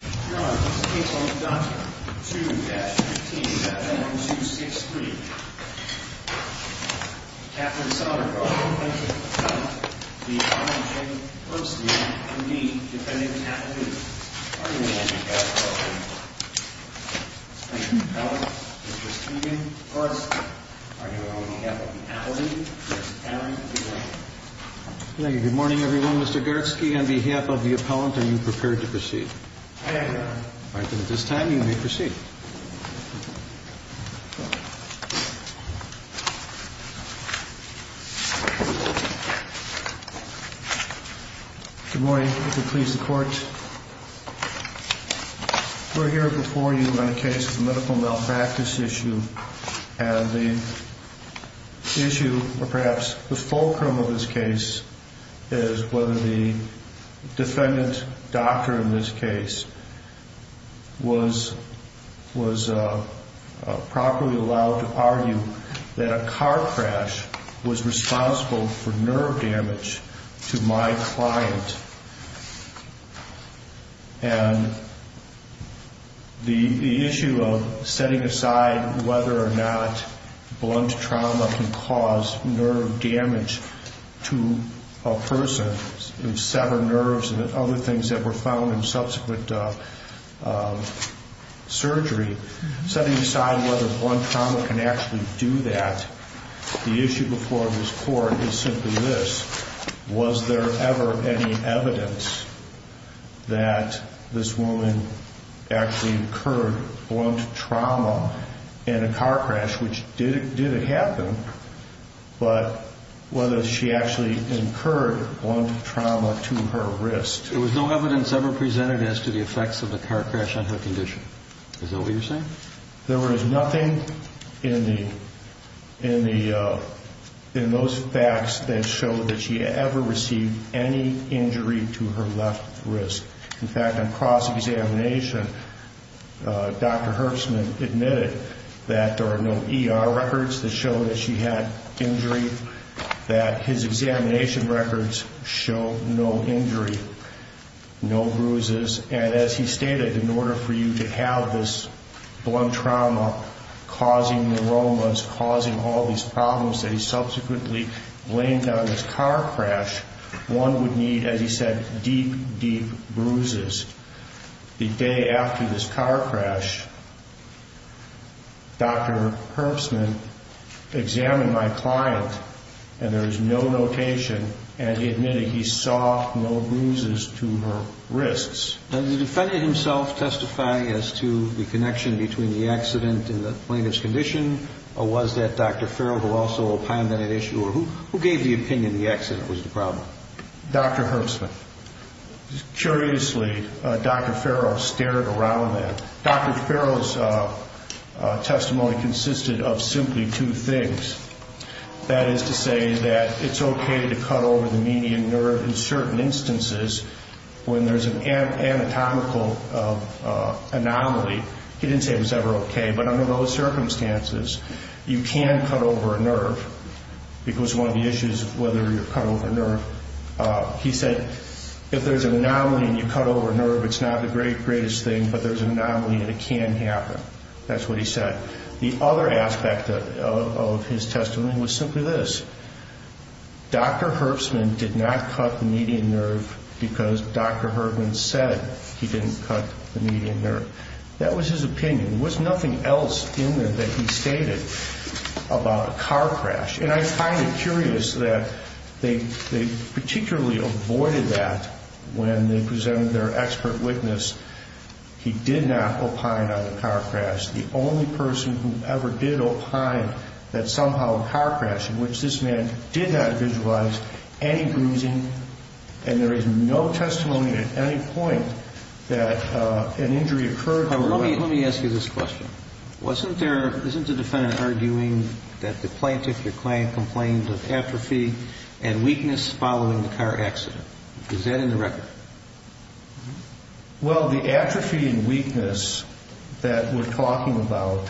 Your Honor, this case on document 2-15-1263. Catherine Sondergaard, plaintiff's appellant, v. Herbstman, M.D., defendant's applicant. Are you ready to proceed? Thank you, Your Honor. Mr. Steven Herbstman, are you ready to proceed? Thank you. Good morning, everyone. Mr. Gartsky, on behalf of the appellant, are you prepared to proceed? I am, Your Honor. All right. Then at this time, you may proceed. Good morning. If you'll please the Court. We're here before you on a case of a medical malpractice issue. And the issue, or perhaps the fulcrum of this case, is whether the defendant, doctor in this case, was properly allowed to argue that a car crash was responsible for nerve damage to my client. And the issue of setting aside whether or not blunt trauma can cause nerve damage to a person and sever nerves and other things that were found in subsequent surgery, setting aside whether blunt trauma can actually do that, the issue before this Court is simply this. Was there ever any evidence that this woman actually incurred blunt trauma in a car crash, which did happen, but whether she actually incurred blunt trauma to her wrist? There was no evidence ever presented as to the effects of a car crash on her condition. Is that what you're saying? There was nothing in those facts that showed that she ever received any injury to her left wrist. In fact, on cross-examination, Dr. Herbstman admitted that there are no ER records that show that she had injury, that his examination records show no injury, no bruises. And as he stated, in order for you to have this blunt trauma causing neuromas, causing all these problems that he subsequently blamed on this car crash, one would need, as he said, deep, deep bruises. The day after this car crash, Dr. Herbstman examined my client, and there was no notation, and he admitted he saw no bruises to her wrists. Does the defendant himself testify as to the connection between the accident and the plaintiff's condition, or was that Dr. Farrell who also opined that an issue, or who gave the opinion the accident was the problem? Dr. Herbstman. Curiously, Dr. Farrell stared around that. Dr. Farrell's testimony consisted of simply two things. That is to say that it's okay to cut over the median nerve in certain instances when there's an anatomical anomaly. He didn't say it was ever okay, but under those circumstances, you can cut over a nerve, because one of the issues, whether you cut over a nerve, he said, if there's an anomaly and you cut over a nerve, it's not the greatest thing, but there's an anomaly and it can happen. That's what he said. The other aspect of his testimony was simply this. Dr. Herbstman did not cut the median nerve because Dr. Herbstman said he didn't cut the median nerve. That was his opinion. There was nothing else in there that he stated about a car crash, And I find it curious that they particularly avoided that when they presented their expert witness. He did not opine on the car crash. The only person who ever did opine that somehow a car crash, in which this man did not visualize any bruising, and there is no testimony at any point that an injury occurred. Let me ask you this question. Isn't the defendant arguing that the plaintiff complained of atrophy and weakness following the car accident? Is that in the record? Well, the atrophy and weakness that we're talking about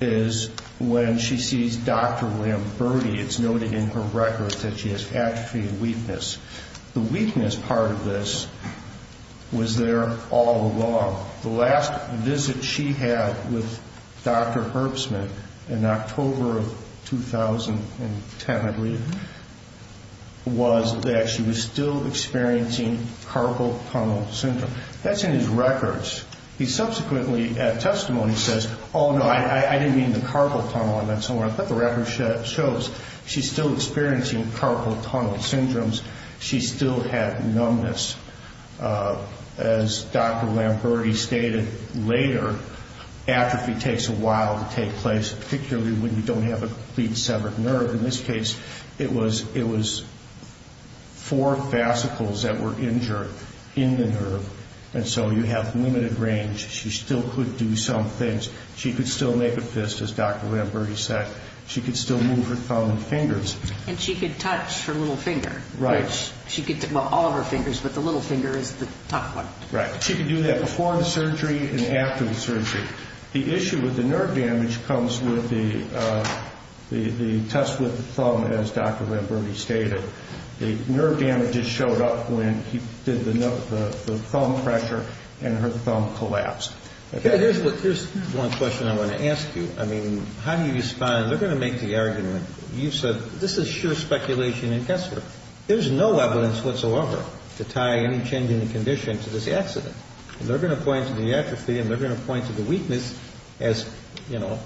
is when she sees Dr. Lamberti. It's noted in her record that she has atrophy and weakness. The weakness part of this was there all along. The last visit she had with Dr. Herbstman in October of 2010, I believe, was that she was still experiencing carpal tunnel syndrome. That's in his records. He subsequently, at testimony, says, oh, no, I didn't mean the carpal tunnel. I thought the record shows she's still experiencing carpal tunnel syndromes. She still had numbness. As Dr. Lamberti stated later, atrophy takes a while to take place, particularly when you don't have a complete severed nerve. In this case, it was four fascicles that were injured in the nerve. And so you have limited range. She still could do some things. She could still make a fist, as Dr. Lamberti said. She could still move her thumb and fingers. And she could touch her little finger. Right. Well, all of her fingers, but the little finger is the tough one. Right. She could do that before the surgery and after the surgery. The issue with the nerve damage comes with the test with the thumb, as Dr. Lamberti stated. The nerve damage just showed up when he did the thumb pressure, and her thumb collapsed. Here's one question I want to ask you. I mean, how do you respond? You know, they're going to make the argument. You said this is sheer speculation and guesswork. There's no evidence whatsoever to tie any change in the condition to this accident. They're going to point to the atrophy and they're going to point to the weakness as, you know,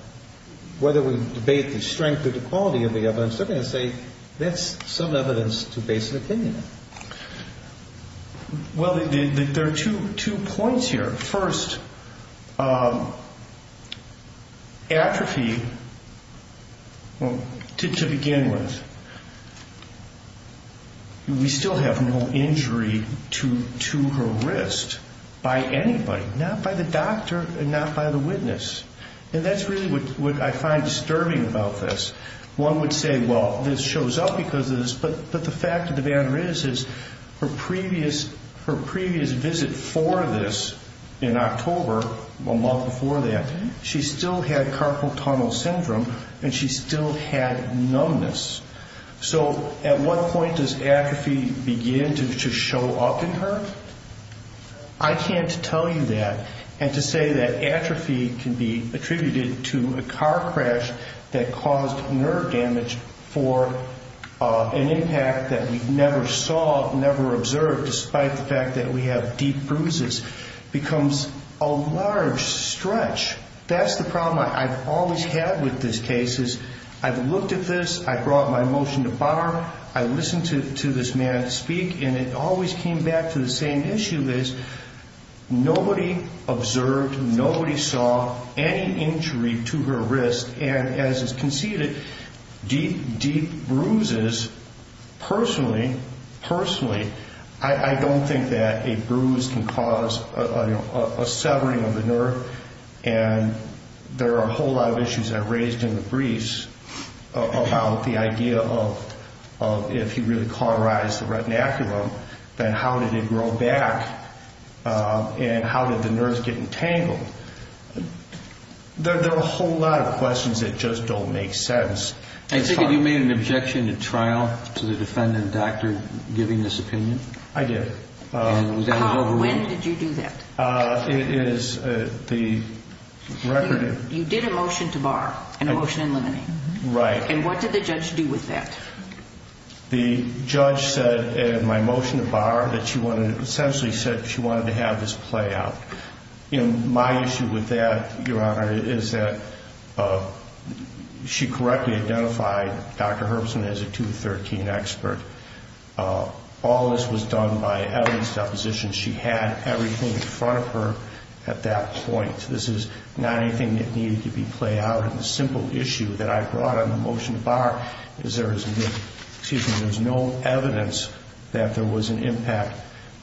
whether we debate the strength or the quality of the evidence, they're going to say that's some evidence to base an opinion on. Well, there are two points here. First, atrophy, to begin with, we still have no injury to her wrist by anybody, not by the doctor and not by the witness. And that's really what I find disturbing about this. One would say, well, this shows up because of this, but the fact of the matter is her previous visit for this in October, a month before that, she still had carpal tunnel syndrome and she still had numbness. So at what point does atrophy begin to show up in her? I can't tell you that. And to say that atrophy can be attributed to a car crash that caused nerve damage for an impact that we never saw, never observed, despite the fact that we have deep bruises, becomes a large stretch. That's the problem I've always had with this case is I've looked at this, I brought my motion to bar, I listened to this man speak, and it always came back to the same issue is nobody observed, nobody saw any injury to her wrist. And as is conceded, deep, deep bruises, personally, personally, I don't think that a bruise can cause a severing of the nerve. And there are a whole lot of issues I've raised in the briefs about the idea of if he really cauterized the retinaculum, then how did it grow back and how did the nerves get entangled? There are a whole lot of questions that just don't make sense. I think that you made an objection at trial to the defendant doctor giving this opinion. I did. When did you do that? It is the record of... You did a motion to bar, a motion in limine. Right. And what did the judge do with that? The judge said in my motion to bar that she wanted to essentially said she wanted to have this play out. My issue with that, Your Honor, is that she correctly identified Dr. Herbstman as a 2 to 13 expert. All this was done by evidence deposition. She had everything in front of her at that point. This is not anything that needed to be played out. The simple issue that I brought on the motion to bar is there is no evidence that there was an impact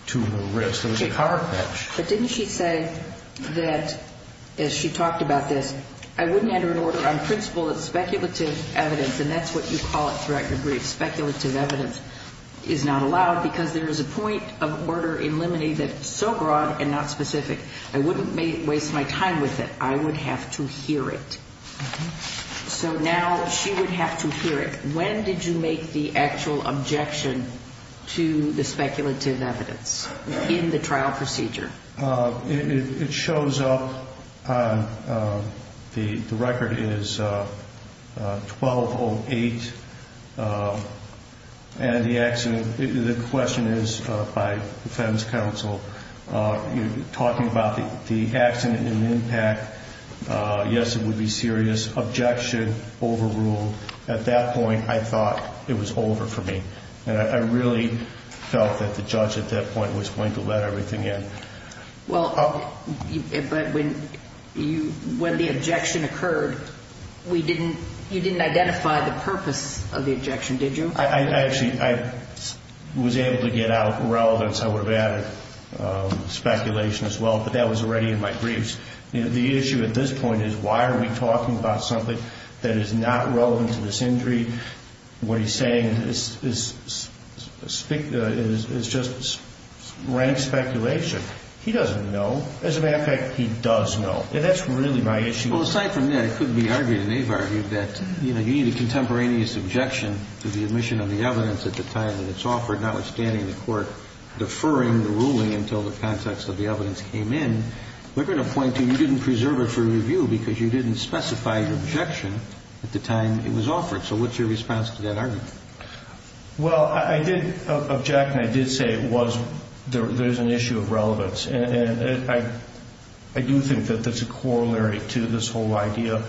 to the wrist. It was a cover patch. But didn't she say that, as she talked about this, I wouldn't enter an order on principle that speculative evidence, and that's what you call it throughout your brief, speculative evidence is not allowed because there is a point of order in limine that is so broad and not specific. I wouldn't waste my time with it. I would have to hear it. So now she would have to hear it. When did you make the actual objection to the speculative evidence in the trial procedure? It shows up. The record is 1208. And the question is, by defense counsel, you're talking about the accident and the impact. Yes, it would be serious. Objection overruled. At that point, I thought it was over for me. And I really felt that the judge at that point was going to let everything in. But when the objection occurred, you didn't identify the purpose of the objection, did you? Actually, I was able to get out relevance. I would have added speculation as well, but that was already in my briefs. The issue at this point is why are we talking about something that is not relevant to this injury? What he's saying is just rank speculation. He doesn't know. As a matter of fact, he does know. And that's really my issue. Well, aside from that, it could be argued and they've argued that, you know, you need a contemporaneous objection to the admission of the evidence at the time that it's offered, notwithstanding the court deferring the ruling until the context of the evidence came in. We're going to point to you didn't preserve it for review because you didn't specify your objection at the time it was offered. So what's your response to that argument? Well, I did object and I did say there's an issue of relevance. And I do think that there's a corollary to this whole idea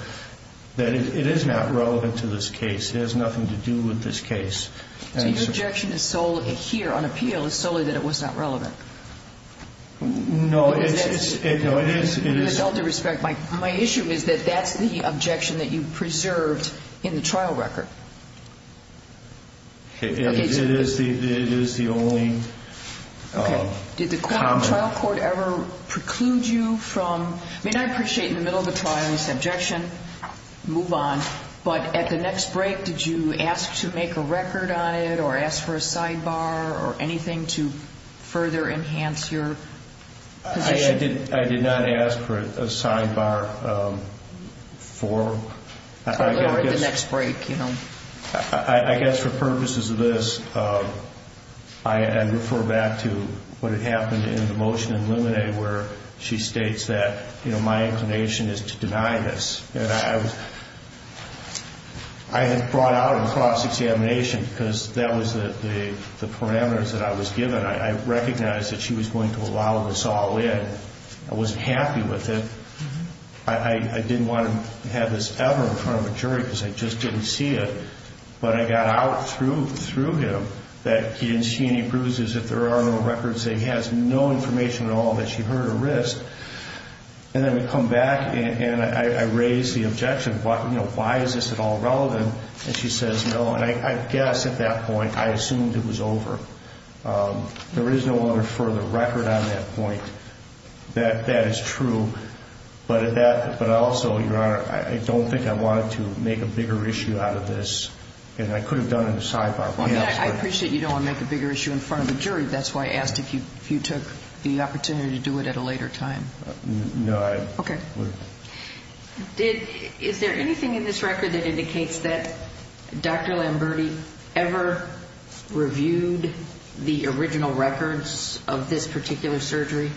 that it is not relevant to this case. It has nothing to do with this case. So your objection here on appeal is solely that it was not relevant? No, it is. With all due respect, my issue is that that's the objection that you preserved in the trial record. It is the only comment. Did the trial court ever preclude you from? I mean, I appreciate in the middle of the trial it's an objection, move on. But at the next break, did you ask to make a record on it or ask for a sidebar or anything to further enhance your position? I did not ask for a sidebar for the next break. I guess for purposes of this, I refer back to what had happened in the motion in Limine where she states that my inclination is to deny this. I had brought out a cross-examination because that was the parameters that I was given. I recognized that she was going to allow this all in. I wasn't happy with it. I didn't want to have this ever in front of a jury because I just didn't see it. But I got out through him that he didn't see any bruises. If there are no records, he has no information at all that she hurt her wrist. And then we come back, and I raise the objection. Why is this at all relevant? And she says no. And I guess at that point I assumed it was over. There is no other further record on that point. That is true. But also, Your Honor, I don't think I wanted to make a bigger issue out of this. And I could have done a sidebar. I appreciate you don't want to make a bigger issue in front of a jury. That's why I asked if you took the opportunity to do it at a later time. No, I didn't. Okay. Is there anything in this record that indicates that Dr. Lamberti ever reviewed the original records of this particular surgery?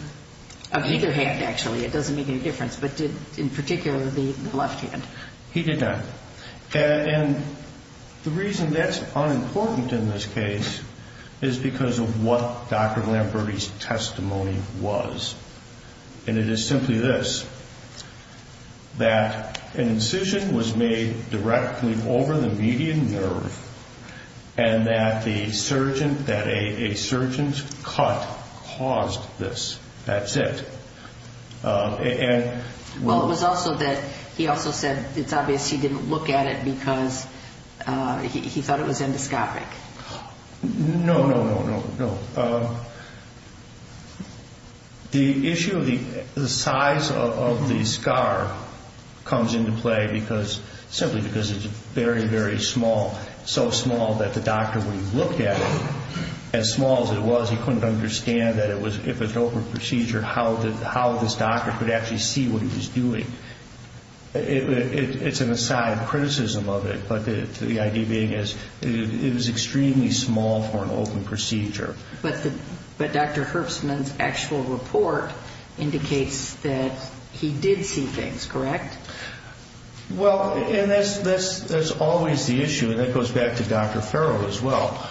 Of either hand, actually. It doesn't make any difference. But in particular, the left hand. He did not. And the reason that's unimportant in this case is because of what Dr. Lamberti's testimony was. And it is simply this, that an incision was made directly over the median nerve and that a surgeon's cut caused this. That's it. Well, it was also that he also said it's obvious he didn't look at it because he thought it was endoscopic. No, no, no, no. The issue of the size of the scar comes into play simply because it's very, very small, so small that the doctor, when he looked at it, as small as it was, he couldn't understand that if it was an open procedure, how this doctor could actually see what he was doing. It's an aside criticism of it, but the idea being it was extremely small for an open procedure. But Dr. Herbstman's actual report indicates that he did see things, correct? Well, and that's always the issue, and that goes back to Dr. Farrell as well.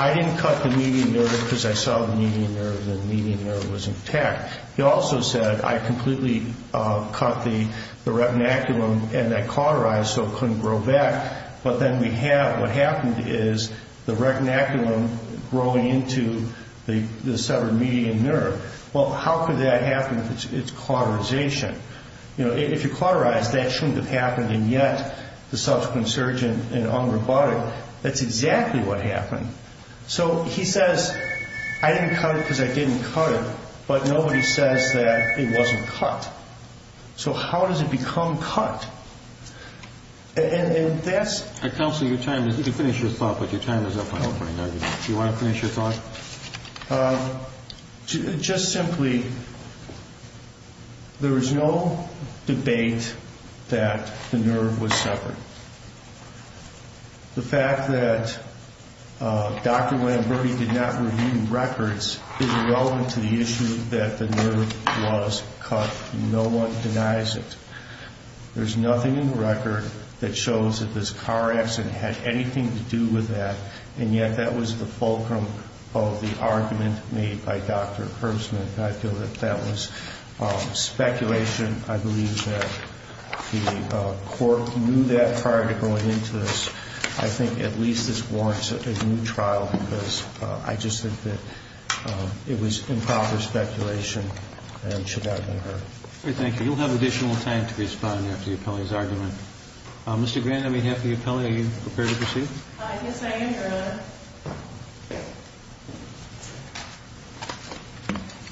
I didn't cut the median nerve because I saw the median nerve, and the median nerve was intact. He also said, I completely cut the retinaculum and I cauterized so it couldn't grow back. But then we have what happened is the retinaculum growing into the severed median nerve. Well, how could that happen if it's cauterization? If you cauterize, that shouldn't have happened, and yet the subsequent surgeon in Unrobotic, that's exactly what happened. So he says, I didn't cut it because I didn't cut it, but nobody says that it wasn't cut. So how does it become cut? And that's... Counselor, you finished your thought, but your time is up on opening argument. Do you want to finish your thought? Just simply, there is no debate that the nerve was severed. The fact that Dr. Lamberti did not review records is irrelevant to the issue that the nerve was cut. No one denies it. There's nothing in the record that shows that this car accident had anything to do with that, and yet that was the fulcrum of the argument made by Dr. Herbstman. I feel that that was speculation. I believe that the court knew that prior to going into this. I think at least this warrants a new trial because I just think that it was improper speculation and should not have been heard. Thank you. You'll have additional time to respond after the appellee's argument. Mr. Grand, on behalf of the appellee, are you prepared to proceed? Yes, I am, Your Honor.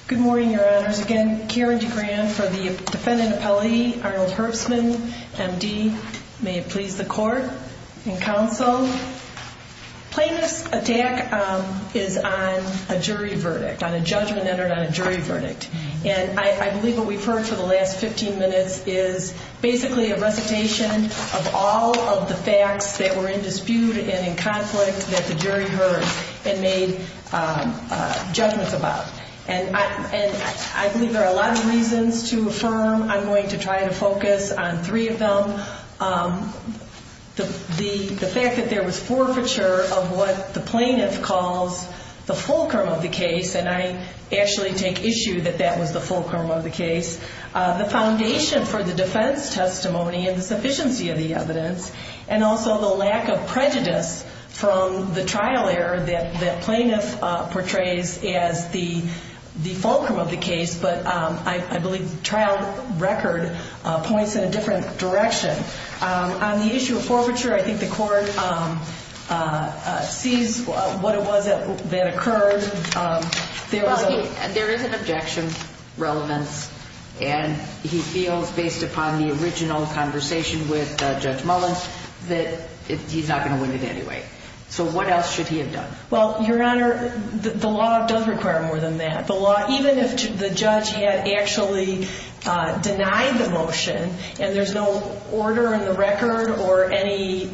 Good morning, Your Honors. Again, Karen DeGrand for the defendant appellee, Arnold Herbstman, MD. May it please the court and counsel. Plaintiff's attack is on a jury verdict, on a judgment entered on a jury verdict. And I believe what we've heard for the last 15 minutes is basically a recitation of all of the facts that were in dispute and in conflict that the jury heard and made judgments about. And I believe there are a lot of reasons to affirm. I'm going to try to focus on three of them. The fact that there was forfeiture of what the plaintiff calls the fulcrum of the case, and I actually take issue that that was the fulcrum of the case. The foundation for the defense testimony and the sufficiency of the evidence, and also the lack of prejudice from the trial error that the plaintiff portrays as the fulcrum of the case. But I believe the trial record points in a different direction. On the issue of forfeiture, I think the court sees what it was that occurred. There is an objection relevance, and he feels, based upon the original conversation with Judge Mullins, that he's not going to win it anyway. So what else should he have done? Well, Your Honor, the law does require more than that. The law, even if the judge had actually denied the motion and there's no order in the record or any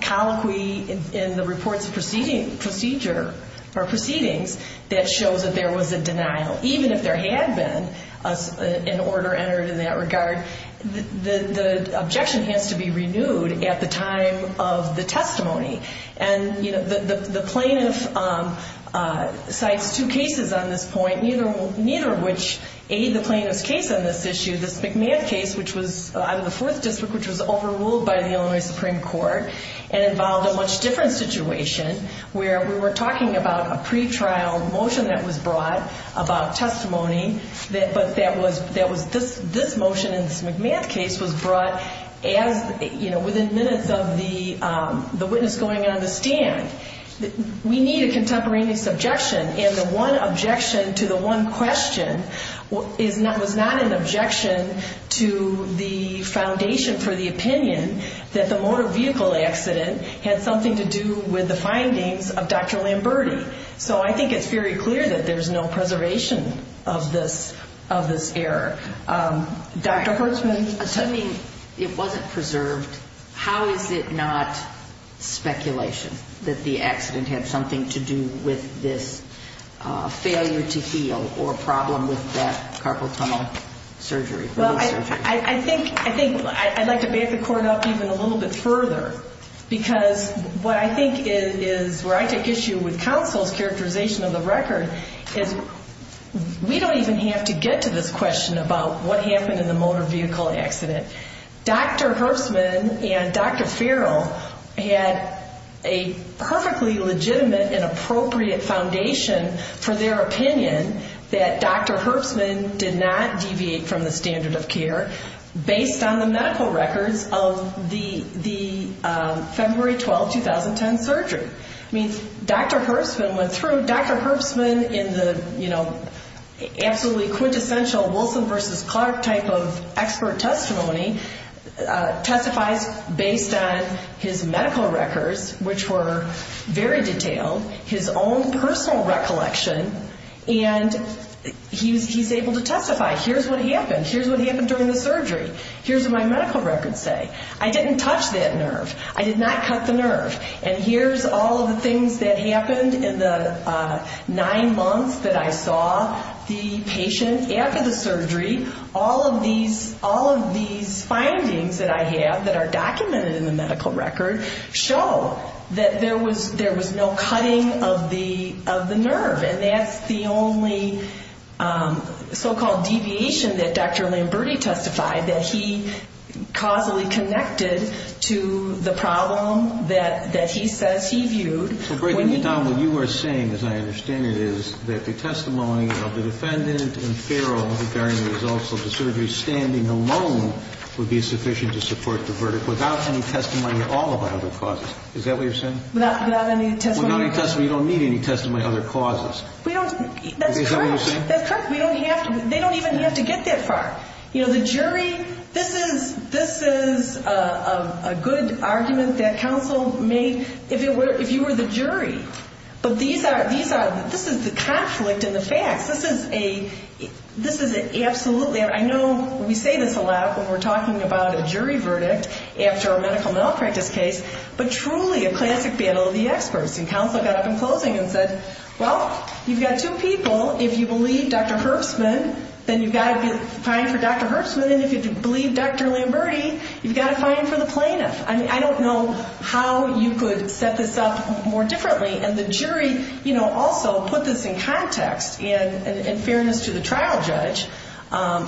colloquy in the report's procedure or proceedings that shows that there was a denial, even if there had been an order entered in that regard, the objection has to be renewed at the time of the testimony. And the plaintiff cites two cases on this point, neither of which aid the plaintiff's case on this issue. This McMahon case, which was out of the Fourth District, which was overruled by the Illinois Supreme Court and involved a much different situation where we were talking about a pretrial motion that was brought about testimony, but this motion in this McMahon case was brought within minutes of the witness going on the stand. We need a contemporaneous objection, and the one objection to the one question was not an objection to the foundation for the opinion that the motor vehicle accident had something to do with the findings of Dr. Lamberti. So I think it's very clear that there's no preservation of this error. Dr. Hertzman, attending, it wasn't preserved. How is it not speculation that the accident had something to do with this failure to heal or problem with that carpal tunnel surgery? Well, I think I'd like to back the court up even a little bit further because what I think is where I take issue with counsel's characterization of the record is we don't even have to get to this question about what happened in the motor vehicle accident. Dr. Hertzman and Dr. Farrell had a perfectly legitimate and appropriate foundation for their opinion that Dr. Hertzman did not deviate from the standard of care based on the medical records of the February 12, 2010 surgery. I mean, Dr. Hertzman went through. Dr. Hertzman in the absolutely quintessential Wilson versus Clark type of expert testimony testifies based on his medical records, which were very detailed, his own personal recollection, and he's able to testify. Here's what happened. Here's what happened during the surgery. Here's what my medical records say. I didn't touch that nerve. I did not cut the nerve. And here's all of the things that happened in the nine months that I saw the patient after the surgery. All of these findings that I have that are documented in the medical record show that there was no cutting of the nerve, and that's the only so-called deviation that Dr. Lamberti testified, that he causally connected to the problem that he says he viewed. So, breaking it down, what you are saying, as I understand it, is that the testimony of the defendant and Farrell who, bearing the results of the surgery standing alone, would be sufficient to support the verdict without any testimony of all of the other causes. Is that what you're saying? Without any testimony. Without any testimony. You don't need any testimony of other causes. That's correct. Is that what you're saying? That's correct. They don't even have to get that far. You know, the jury, this is a good argument that counsel may, if you were the jury, but this is the conflict in the facts. This is absolutely, I know we say this a lot when we're talking about a jury verdict after a medical malpractice case, but truly a classic battle of the experts. And counsel got up in closing and said, Well, you've got two people. If you believe Dr. Herbstman, then you've got to be fined for Dr. Herbstman. And if you believe Dr. Lamberti, you've got to fine him for the plaintiff. I mean, I don't know how you could set this up more differently. And the jury, you know, also put this in context and in fairness to the trial judge,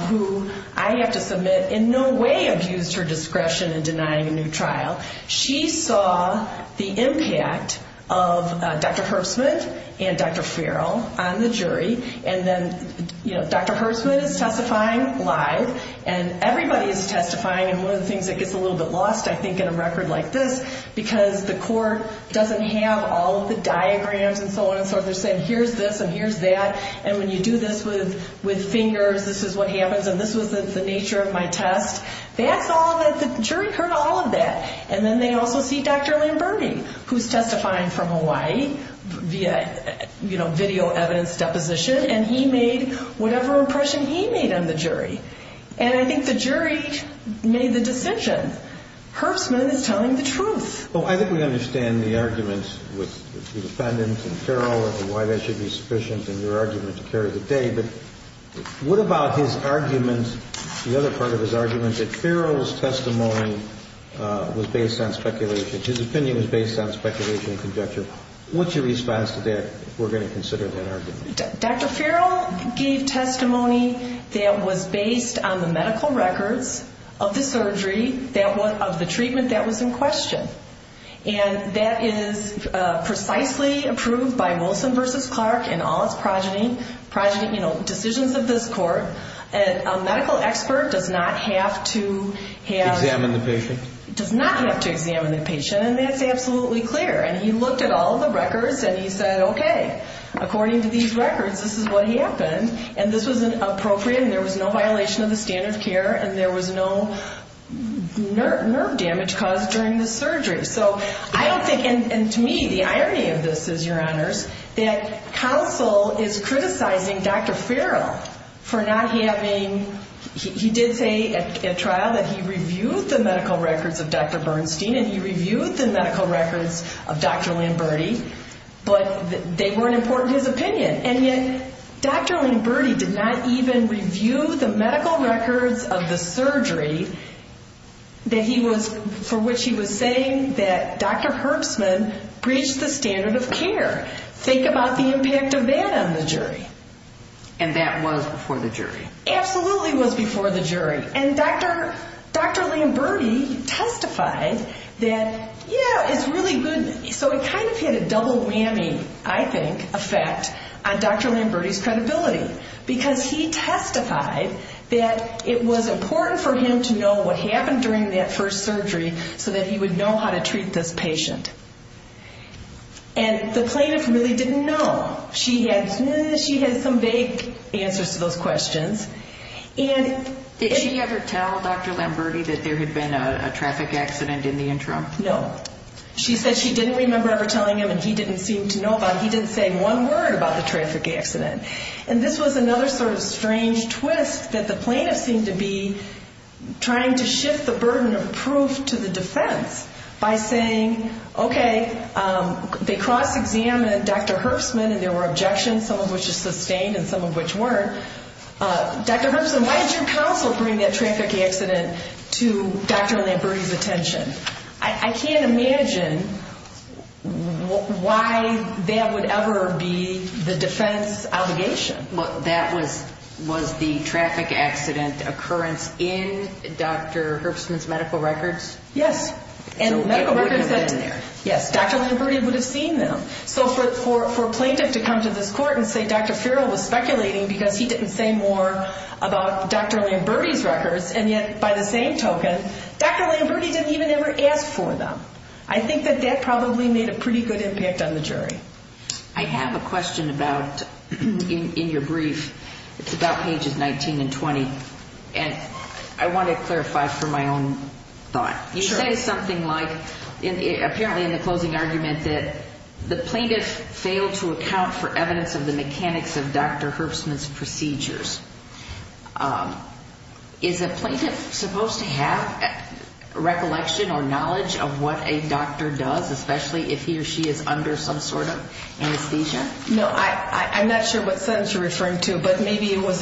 who I have to submit in no way abused her discretion in denying a new trial. She saw the impact of Dr. Herbstman and Dr. Farrell on the jury. And then, you know, Dr. Herbstman is testifying live, and everybody is testifying. And one of the things that gets a little bit lost, I think, in a record like this, because the court doesn't have all of the diagrams and so on and so forth. They're saying here's this and here's that. And when you do this with fingers, this is what happens. And this was the nature of my test. The jury heard all of that. And then they also see Dr. Lamberti, who's testifying from Hawaii via, you know, video evidence deposition, and he made whatever impression he made on the jury. And I think the jury made the decision. Herbstman is telling the truth. Well, I think we understand the argument with the defendants and Farrell and why that should be sufficient in your argument to carry the day. But what about his argument, the other part of his argument, that Farrell's testimony was based on speculation, his opinion was based on speculation and conjecture? What's your response to that if we're going to consider that argument? Dr. Farrell gave testimony that was based on the medical records of the surgery, of the treatment that was in question. And that is precisely approved by Wilson v. Clark in all its progeny, you know, decisions of this court. A medical expert does not have to have. Examine the patient. Does not have to examine the patient, and that's absolutely clear. And he looked at all the records and he said, okay, according to these records, this is what happened. And this was appropriate and there was no violation of the standard of care and there was no nerve damage caused during the surgery. So I don't think, and to me, the irony of this is, Your Honors, that counsel is criticizing Dr. Farrell for not having, he did say at trial that he reviewed the medical records of Dr. Bernstein and he reviewed the medical records of Dr. Lamberti, but they weren't important to his opinion. And yet Dr. Lamberti did not even review the medical records of the surgery for which he was saying that Dr. Herbstman breached the standard of care. Think about the impact of that on the jury. And that was before the jury. Absolutely was before the jury. And Dr. Lamberti testified that, yeah, it's really good. So it kind of had a double whammy, I think, effect on Dr. Lamberti's credibility because he testified that it was important for him to know what happened during that first surgery so that he would know how to treat this patient. And the plaintiff really didn't know. She had some vague answers to those questions. Did she ever tell Dr. Lamberti that there had been a traffic accident in the interim? No. She said she didn't remember ever telling him and he didn't seem to know about it. He didn't say one word about the traffic accident. And this was another sort of strange twist that the plaintiff seemed to be trying to shift the burden of proof to the defense by saying, okay, they cross-examined Dr. Herbstman and there were objections, some of which were sustained and some of which weren't. Dr. Herbstman, why did your counsel bring that traffic accident to Dr. Lamberti's attention? I can't imagine why that would ever be the defense allegation. That was the traffic accident occurrence in Dr. Herbstman's medical records? Yes. So it wouldn't have been there. Yes. Dr. Lamberti would have seen them. So for a plaintiff to come to this court and say Dr. Farrell was speculating because he didn't say more about Dr. Lamberti's records, and yet by the same token, Dr. Lamberti didn't even ever ask for them. I think that that probably made a pretty good impact on the jury. I have a question about, in your brief, it's about pages 19 and 20, and I want to clarify for my own thought. You say something like, apparently in the closing argument, that the plaintiff failed to account for evidence of the mechanics of Dr. Herbstman's procedures. Is a plaintiff supposed to have recollection or knowledge of what a doctor does, especially if he or she is under some sort of anesthesia? No, I'm not sure what sentence you're referring to, but maybe it was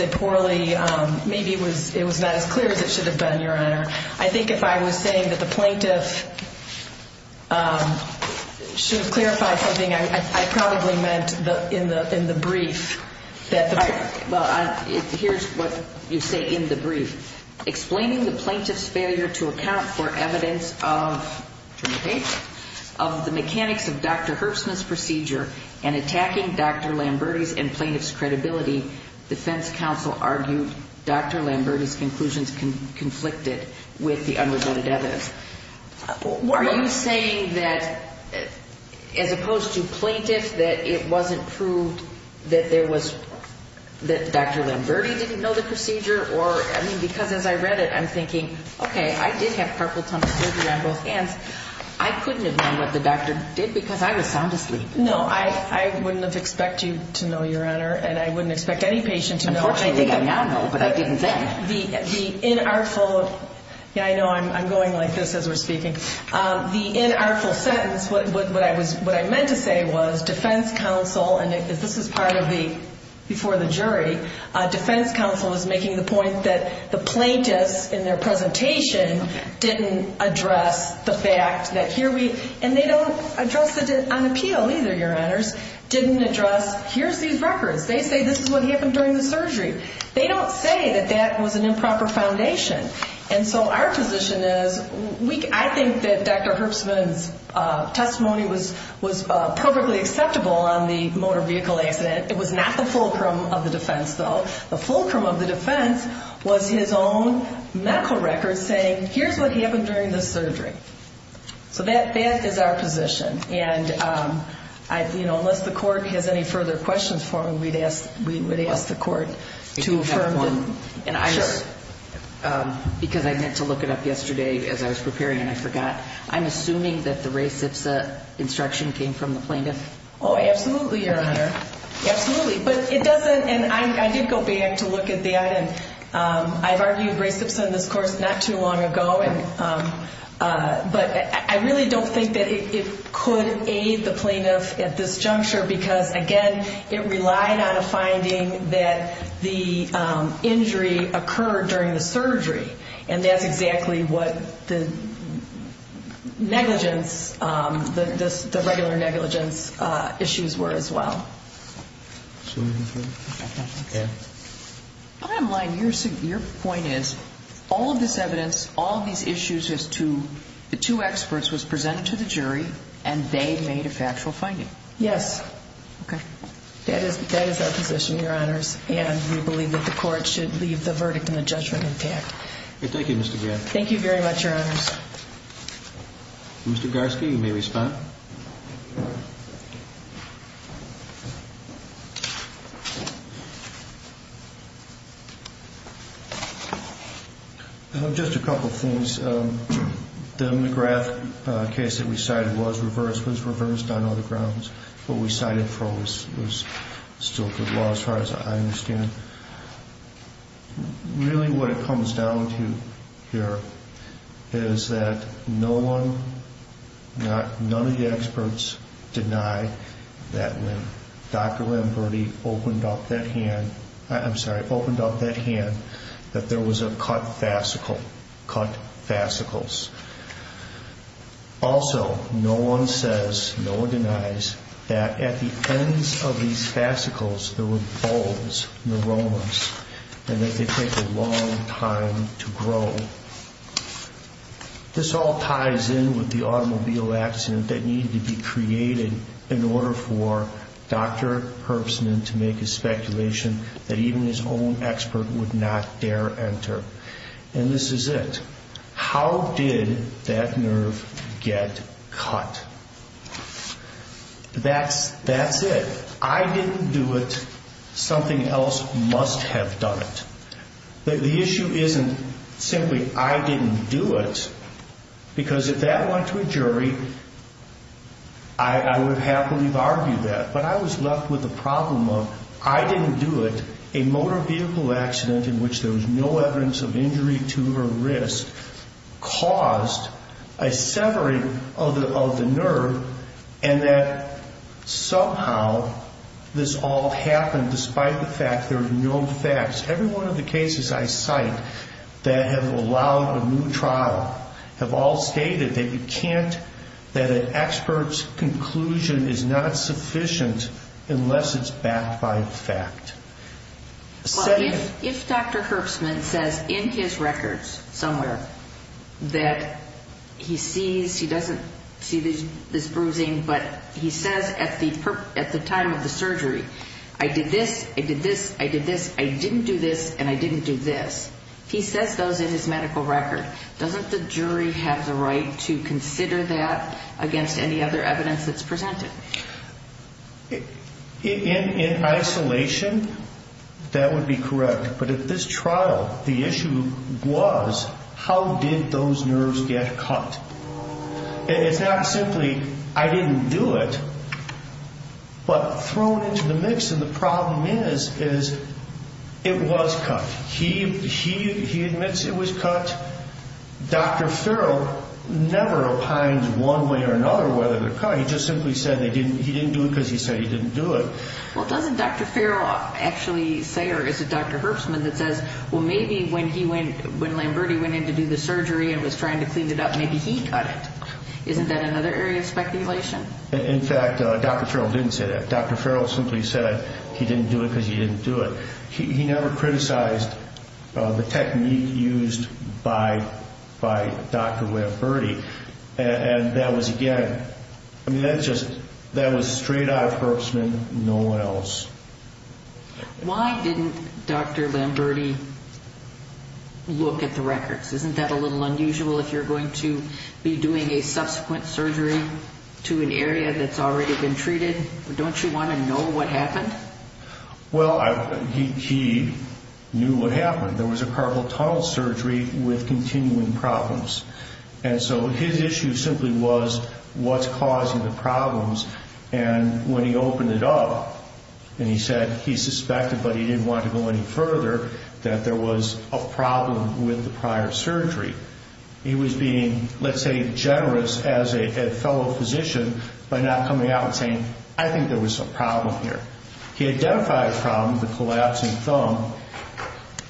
not as clear as it should have been, Your Honor. I think if I was saying that the plaintiff should have clarified something, I probably meant in the brief. Well, here's what you say in the brief. Explaining the plaintiff's failure to account for evidence of the mechanics of Dr. Herbstman's procedure and attacking Dr. Lamberti's and plaintiff's credibility, defense counsel argued Dr. Lamberti's conclusions conflicted with the unreported evidence. Are you saying that, as opposed to plaintiff, that it wasn't proved that Dr. Lamberti didn't know the procedure? Because as I read it, I'm thinking, okay, I did have purple tongue surgery on both hands. I couldn't have known what the doctor did because I was sound asleep. No, I wouldn't have expected you to know, Your Honor, and I wouldn't expect any patient to know. Unfortunately, I think I now know, but I didn't then. The inartful – yeah, I know, I'm going like this as we're speaking. The inartful sentence, what I meant to say was defense counsel – and this is part of the – before the jury – defense counsel is making the point that the plaintiffs in their presentation didn't address the fact that here we – and they don't address it on appeal either, Your Honors, didn't address here's these records. They say this is what happened during the surgery. They don't say that that was an improper foundation. And so our position is I think that Dr. Herbstman's testimony was perfectly acceptable on the motor vehicle accident. It was not the fulcrum of the defense, though. The fulcrum of the defense was his own medical record saying here's what happened during the surgery. So that is our position. And, you know, unless the court has any further questions for me, we would ask the court to affirm them. If you have one. Sure. Because I meant to look it up yesterday as I was preparing and I forgot. I'm assuming that the res ipsa instruction came from the plaintiff? Oh, absolutely, Your Honor, absolutely. But it doesn't – and I did go back to look at that, and I've argued res ipsa in this course not too long ago. But I really don't think that it could aid the plaintiff at this juncture because, again, it relied on a finding that the injury occurred during the surgery. And that's exactly what the negligence, the regular negligence issues were as well. I'm lying. Your point is all of this evidence, all of these issues as to the two experts was presented to the jury, and they made a factual finding. Yes. Okay. That is our position, Your Honors. And we believe that the court should leave the verdict and the judgment intact. Okay. Thank you, Mr. Grant. Thank you very much, Your Honors. Mr. Garsky, you may respond. I have just a couple of things. The McGrath case that we cited was reversed, was reversed on other grounds. What we cited for was still good law as far as I understand. Really what it comes down to here is that no one, none of the defendants, none of the experts deny that when Dr. Lamberti opened up that hand, I'm sorry, opened up that hand, that there was a cut fascicle, cut fascicles. Also, no one says, no one denies that at the ends of these fascicles, there were bones, neuromas, and that they take a long time to grow. This all ties in with the automobile accident that needed to be created in order for Dr. Herbstman to make his speculation that even his own expert would not dare enter. And this is it. How did that nerve get cut? That's it. I didn't do it. Something else must have done it. The issue isn't simply I didn't do it because if that went to a jury, I would have happily argued that. But I was left with the problem of I didn't do it, a motor vehicle accident in which there was no evidence of injury to her wrist caused a severing of the nerve and that somehow this all happened despite the fact there were no facts. Every one of the cases I cite that have allowed a new trial have all stated that you can't, that an expert's conclusion is not sufficient unless it's backed by fact. Well, if Dr. Herbstman says in his records somewhere that he sees, he doesn't see this bruising, but he says at the time of the surgery, I did this, I did this, I did this, I didn't do this, and I didn't do this, he says those in his medical record, doesn't the jury have the right to consider that against any other evidence that's presented? In isolation, that would be correct. But at this trial, the issue was how did those nerves get cut? It's not simply I didn't do it, but thrown into the mix, and the problem is it was cut. He admits it was cut. Dr. Farrell never opines one way or another whether they're cut. He just simply said he didn't do it because he said he didn't do it. Well, doesn't Dr. Farrell actually say, or is it Dr. Herbstman that says, well, maybe when Lamberti went in to do the surgery and was trying to clean it up, maybe he cut it? Isn't that another area of speculation? In fact, Dr. Farrell didn't say that. Dr. Farrell simply said he didn't do it because he didn't do it. He never criticized the technique used by Dr. Lamberti, and that was, again, I mean, that's just, that was straight out of Herbstman, no one else. Why didn't Dr. Lamberti look at the records? Isn't that a little unusual if you're going to be doing a subsequent surgery to an area that's already been treated? Don't you want to know what happened? Well, he knew what happened. There was a carpal tunnel surgery with continuing problems, and when he opened it up and he said he suspected, but he didn't want to go any further, that there was a problem with the prior surgery. He was being, let's say, generous as a fellow physician by not coming out and saying, I think there was a problem here. He identified a problem, the collapsing thumb.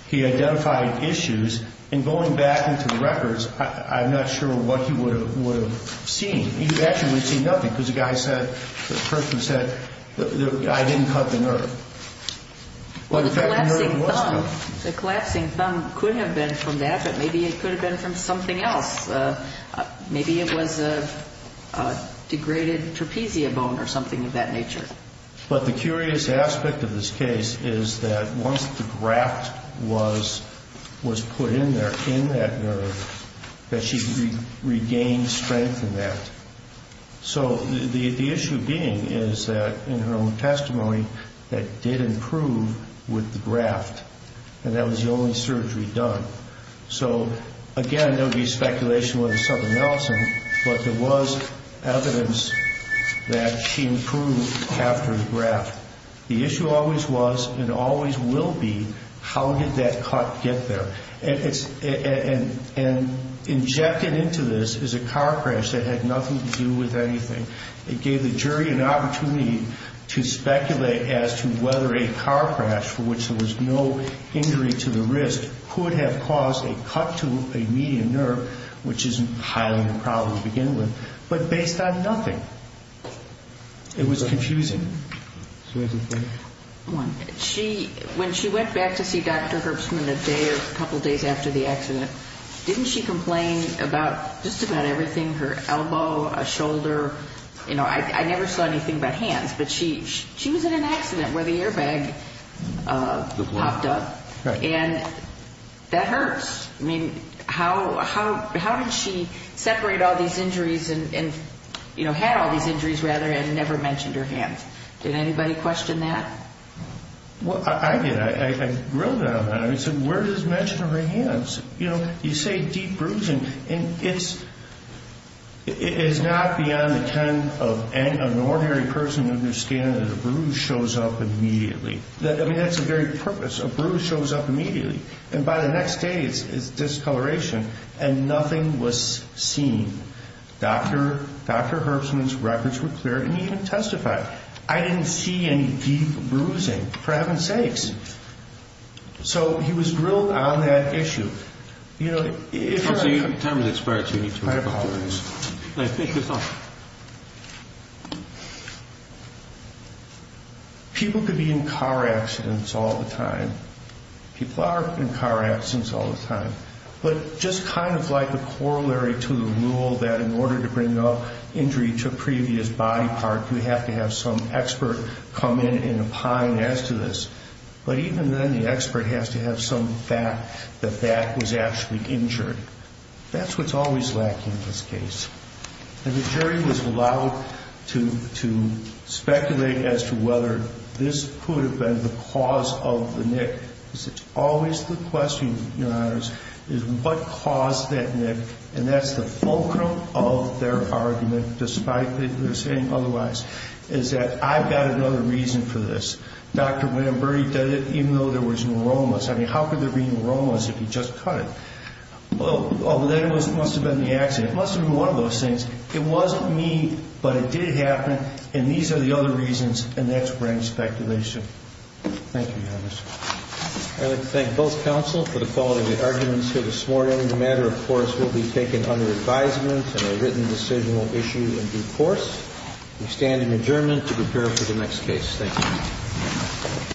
He identified issues, and going back into the records, I'm not sure what he would have seen. He actually would have seen nothing because the guy said, the person said, I didn't cut the nerve. Well, the collapsing thumb could have been from that, but maybe it could have been from something else. Maybe it was a degraded trapezius bone or something of that nature. But the curious aspect of this case is that once the graft was put in there, in that nerve, that she regained strength in that. So the issue being is that, in her own testimony, that did improve with the graft, and that was the only surgery done. So, again, there would be speculation whether something else, but there was evidence that she improved after the graft. The issue always was and always will be, how did that cut get there? And injected into this is a car crash that had nothing to do with anything. It gave the jury an opportunity to speculate as to whether a car crash, for which there was no injury to the wrist, could have caused a cut to a median nerve, which is highly improbable to begin with, but based on nothing. It was confusing. When she went back to see Dr. Herbstman a day or a couple days after the accident, didn't she complain about just about everything, her elbow, her shoulder? I never saw anything about hands, but she was in an accident where the airbag popped up, and that hurts. I mean, how did she separate all these injuries, and had all these injuries, rather, and never mentioned her hands? Did anybody question that? I did. I grilled her on that. I said, where does she mention her hands? You say deep bruising, and it's not beyond the kind of an ordinary person to understand that a bruise shows up immediately. I mean, that's the very purpose. A bruise shows up immediately, and by the next day it's discoloration, and nothing was seen. Dr. Herbstman's records were cleared, and he even testified. I didn't see any deep bruising, for heaven's sakes. So he was grilled on that issue. So your time has expired, so you need to go back to your room. I apologize. No, I think you're fine. People could be in car accidents all the time. People are in car accidents all the time. But just kind of like a corollary to the rule that in order to bring up injury to a previous body part, you have to have some expert come in, and opine as to this. But even then, the expert has to have some fact that that was actually injured. That's what's always lacking in this case. And the jury was allowed to speculate as to whether this could have been the cause of the nick. Because it's always the question, Your Honors, is what caused that nick, and that's the fulcrum of their argument, despite their saying otherwise, is that I've got another reason for this. Dr. William Burry did it even though there was no aromas. I mean, how could there be no aromas if he just cut it? Although then it must have been the accident. It must have been one of those things. It wasn't me, but it did happen, and these are the other reasons, and that's brain speculation. Thank you, Your Honors. I'd like to thank both counsel for the quality of the arguments here this morning. The matter, of course, will be taken under advisement and a written decision will issue in due course. We stand in adjournment to prepare for the next case. Thank you.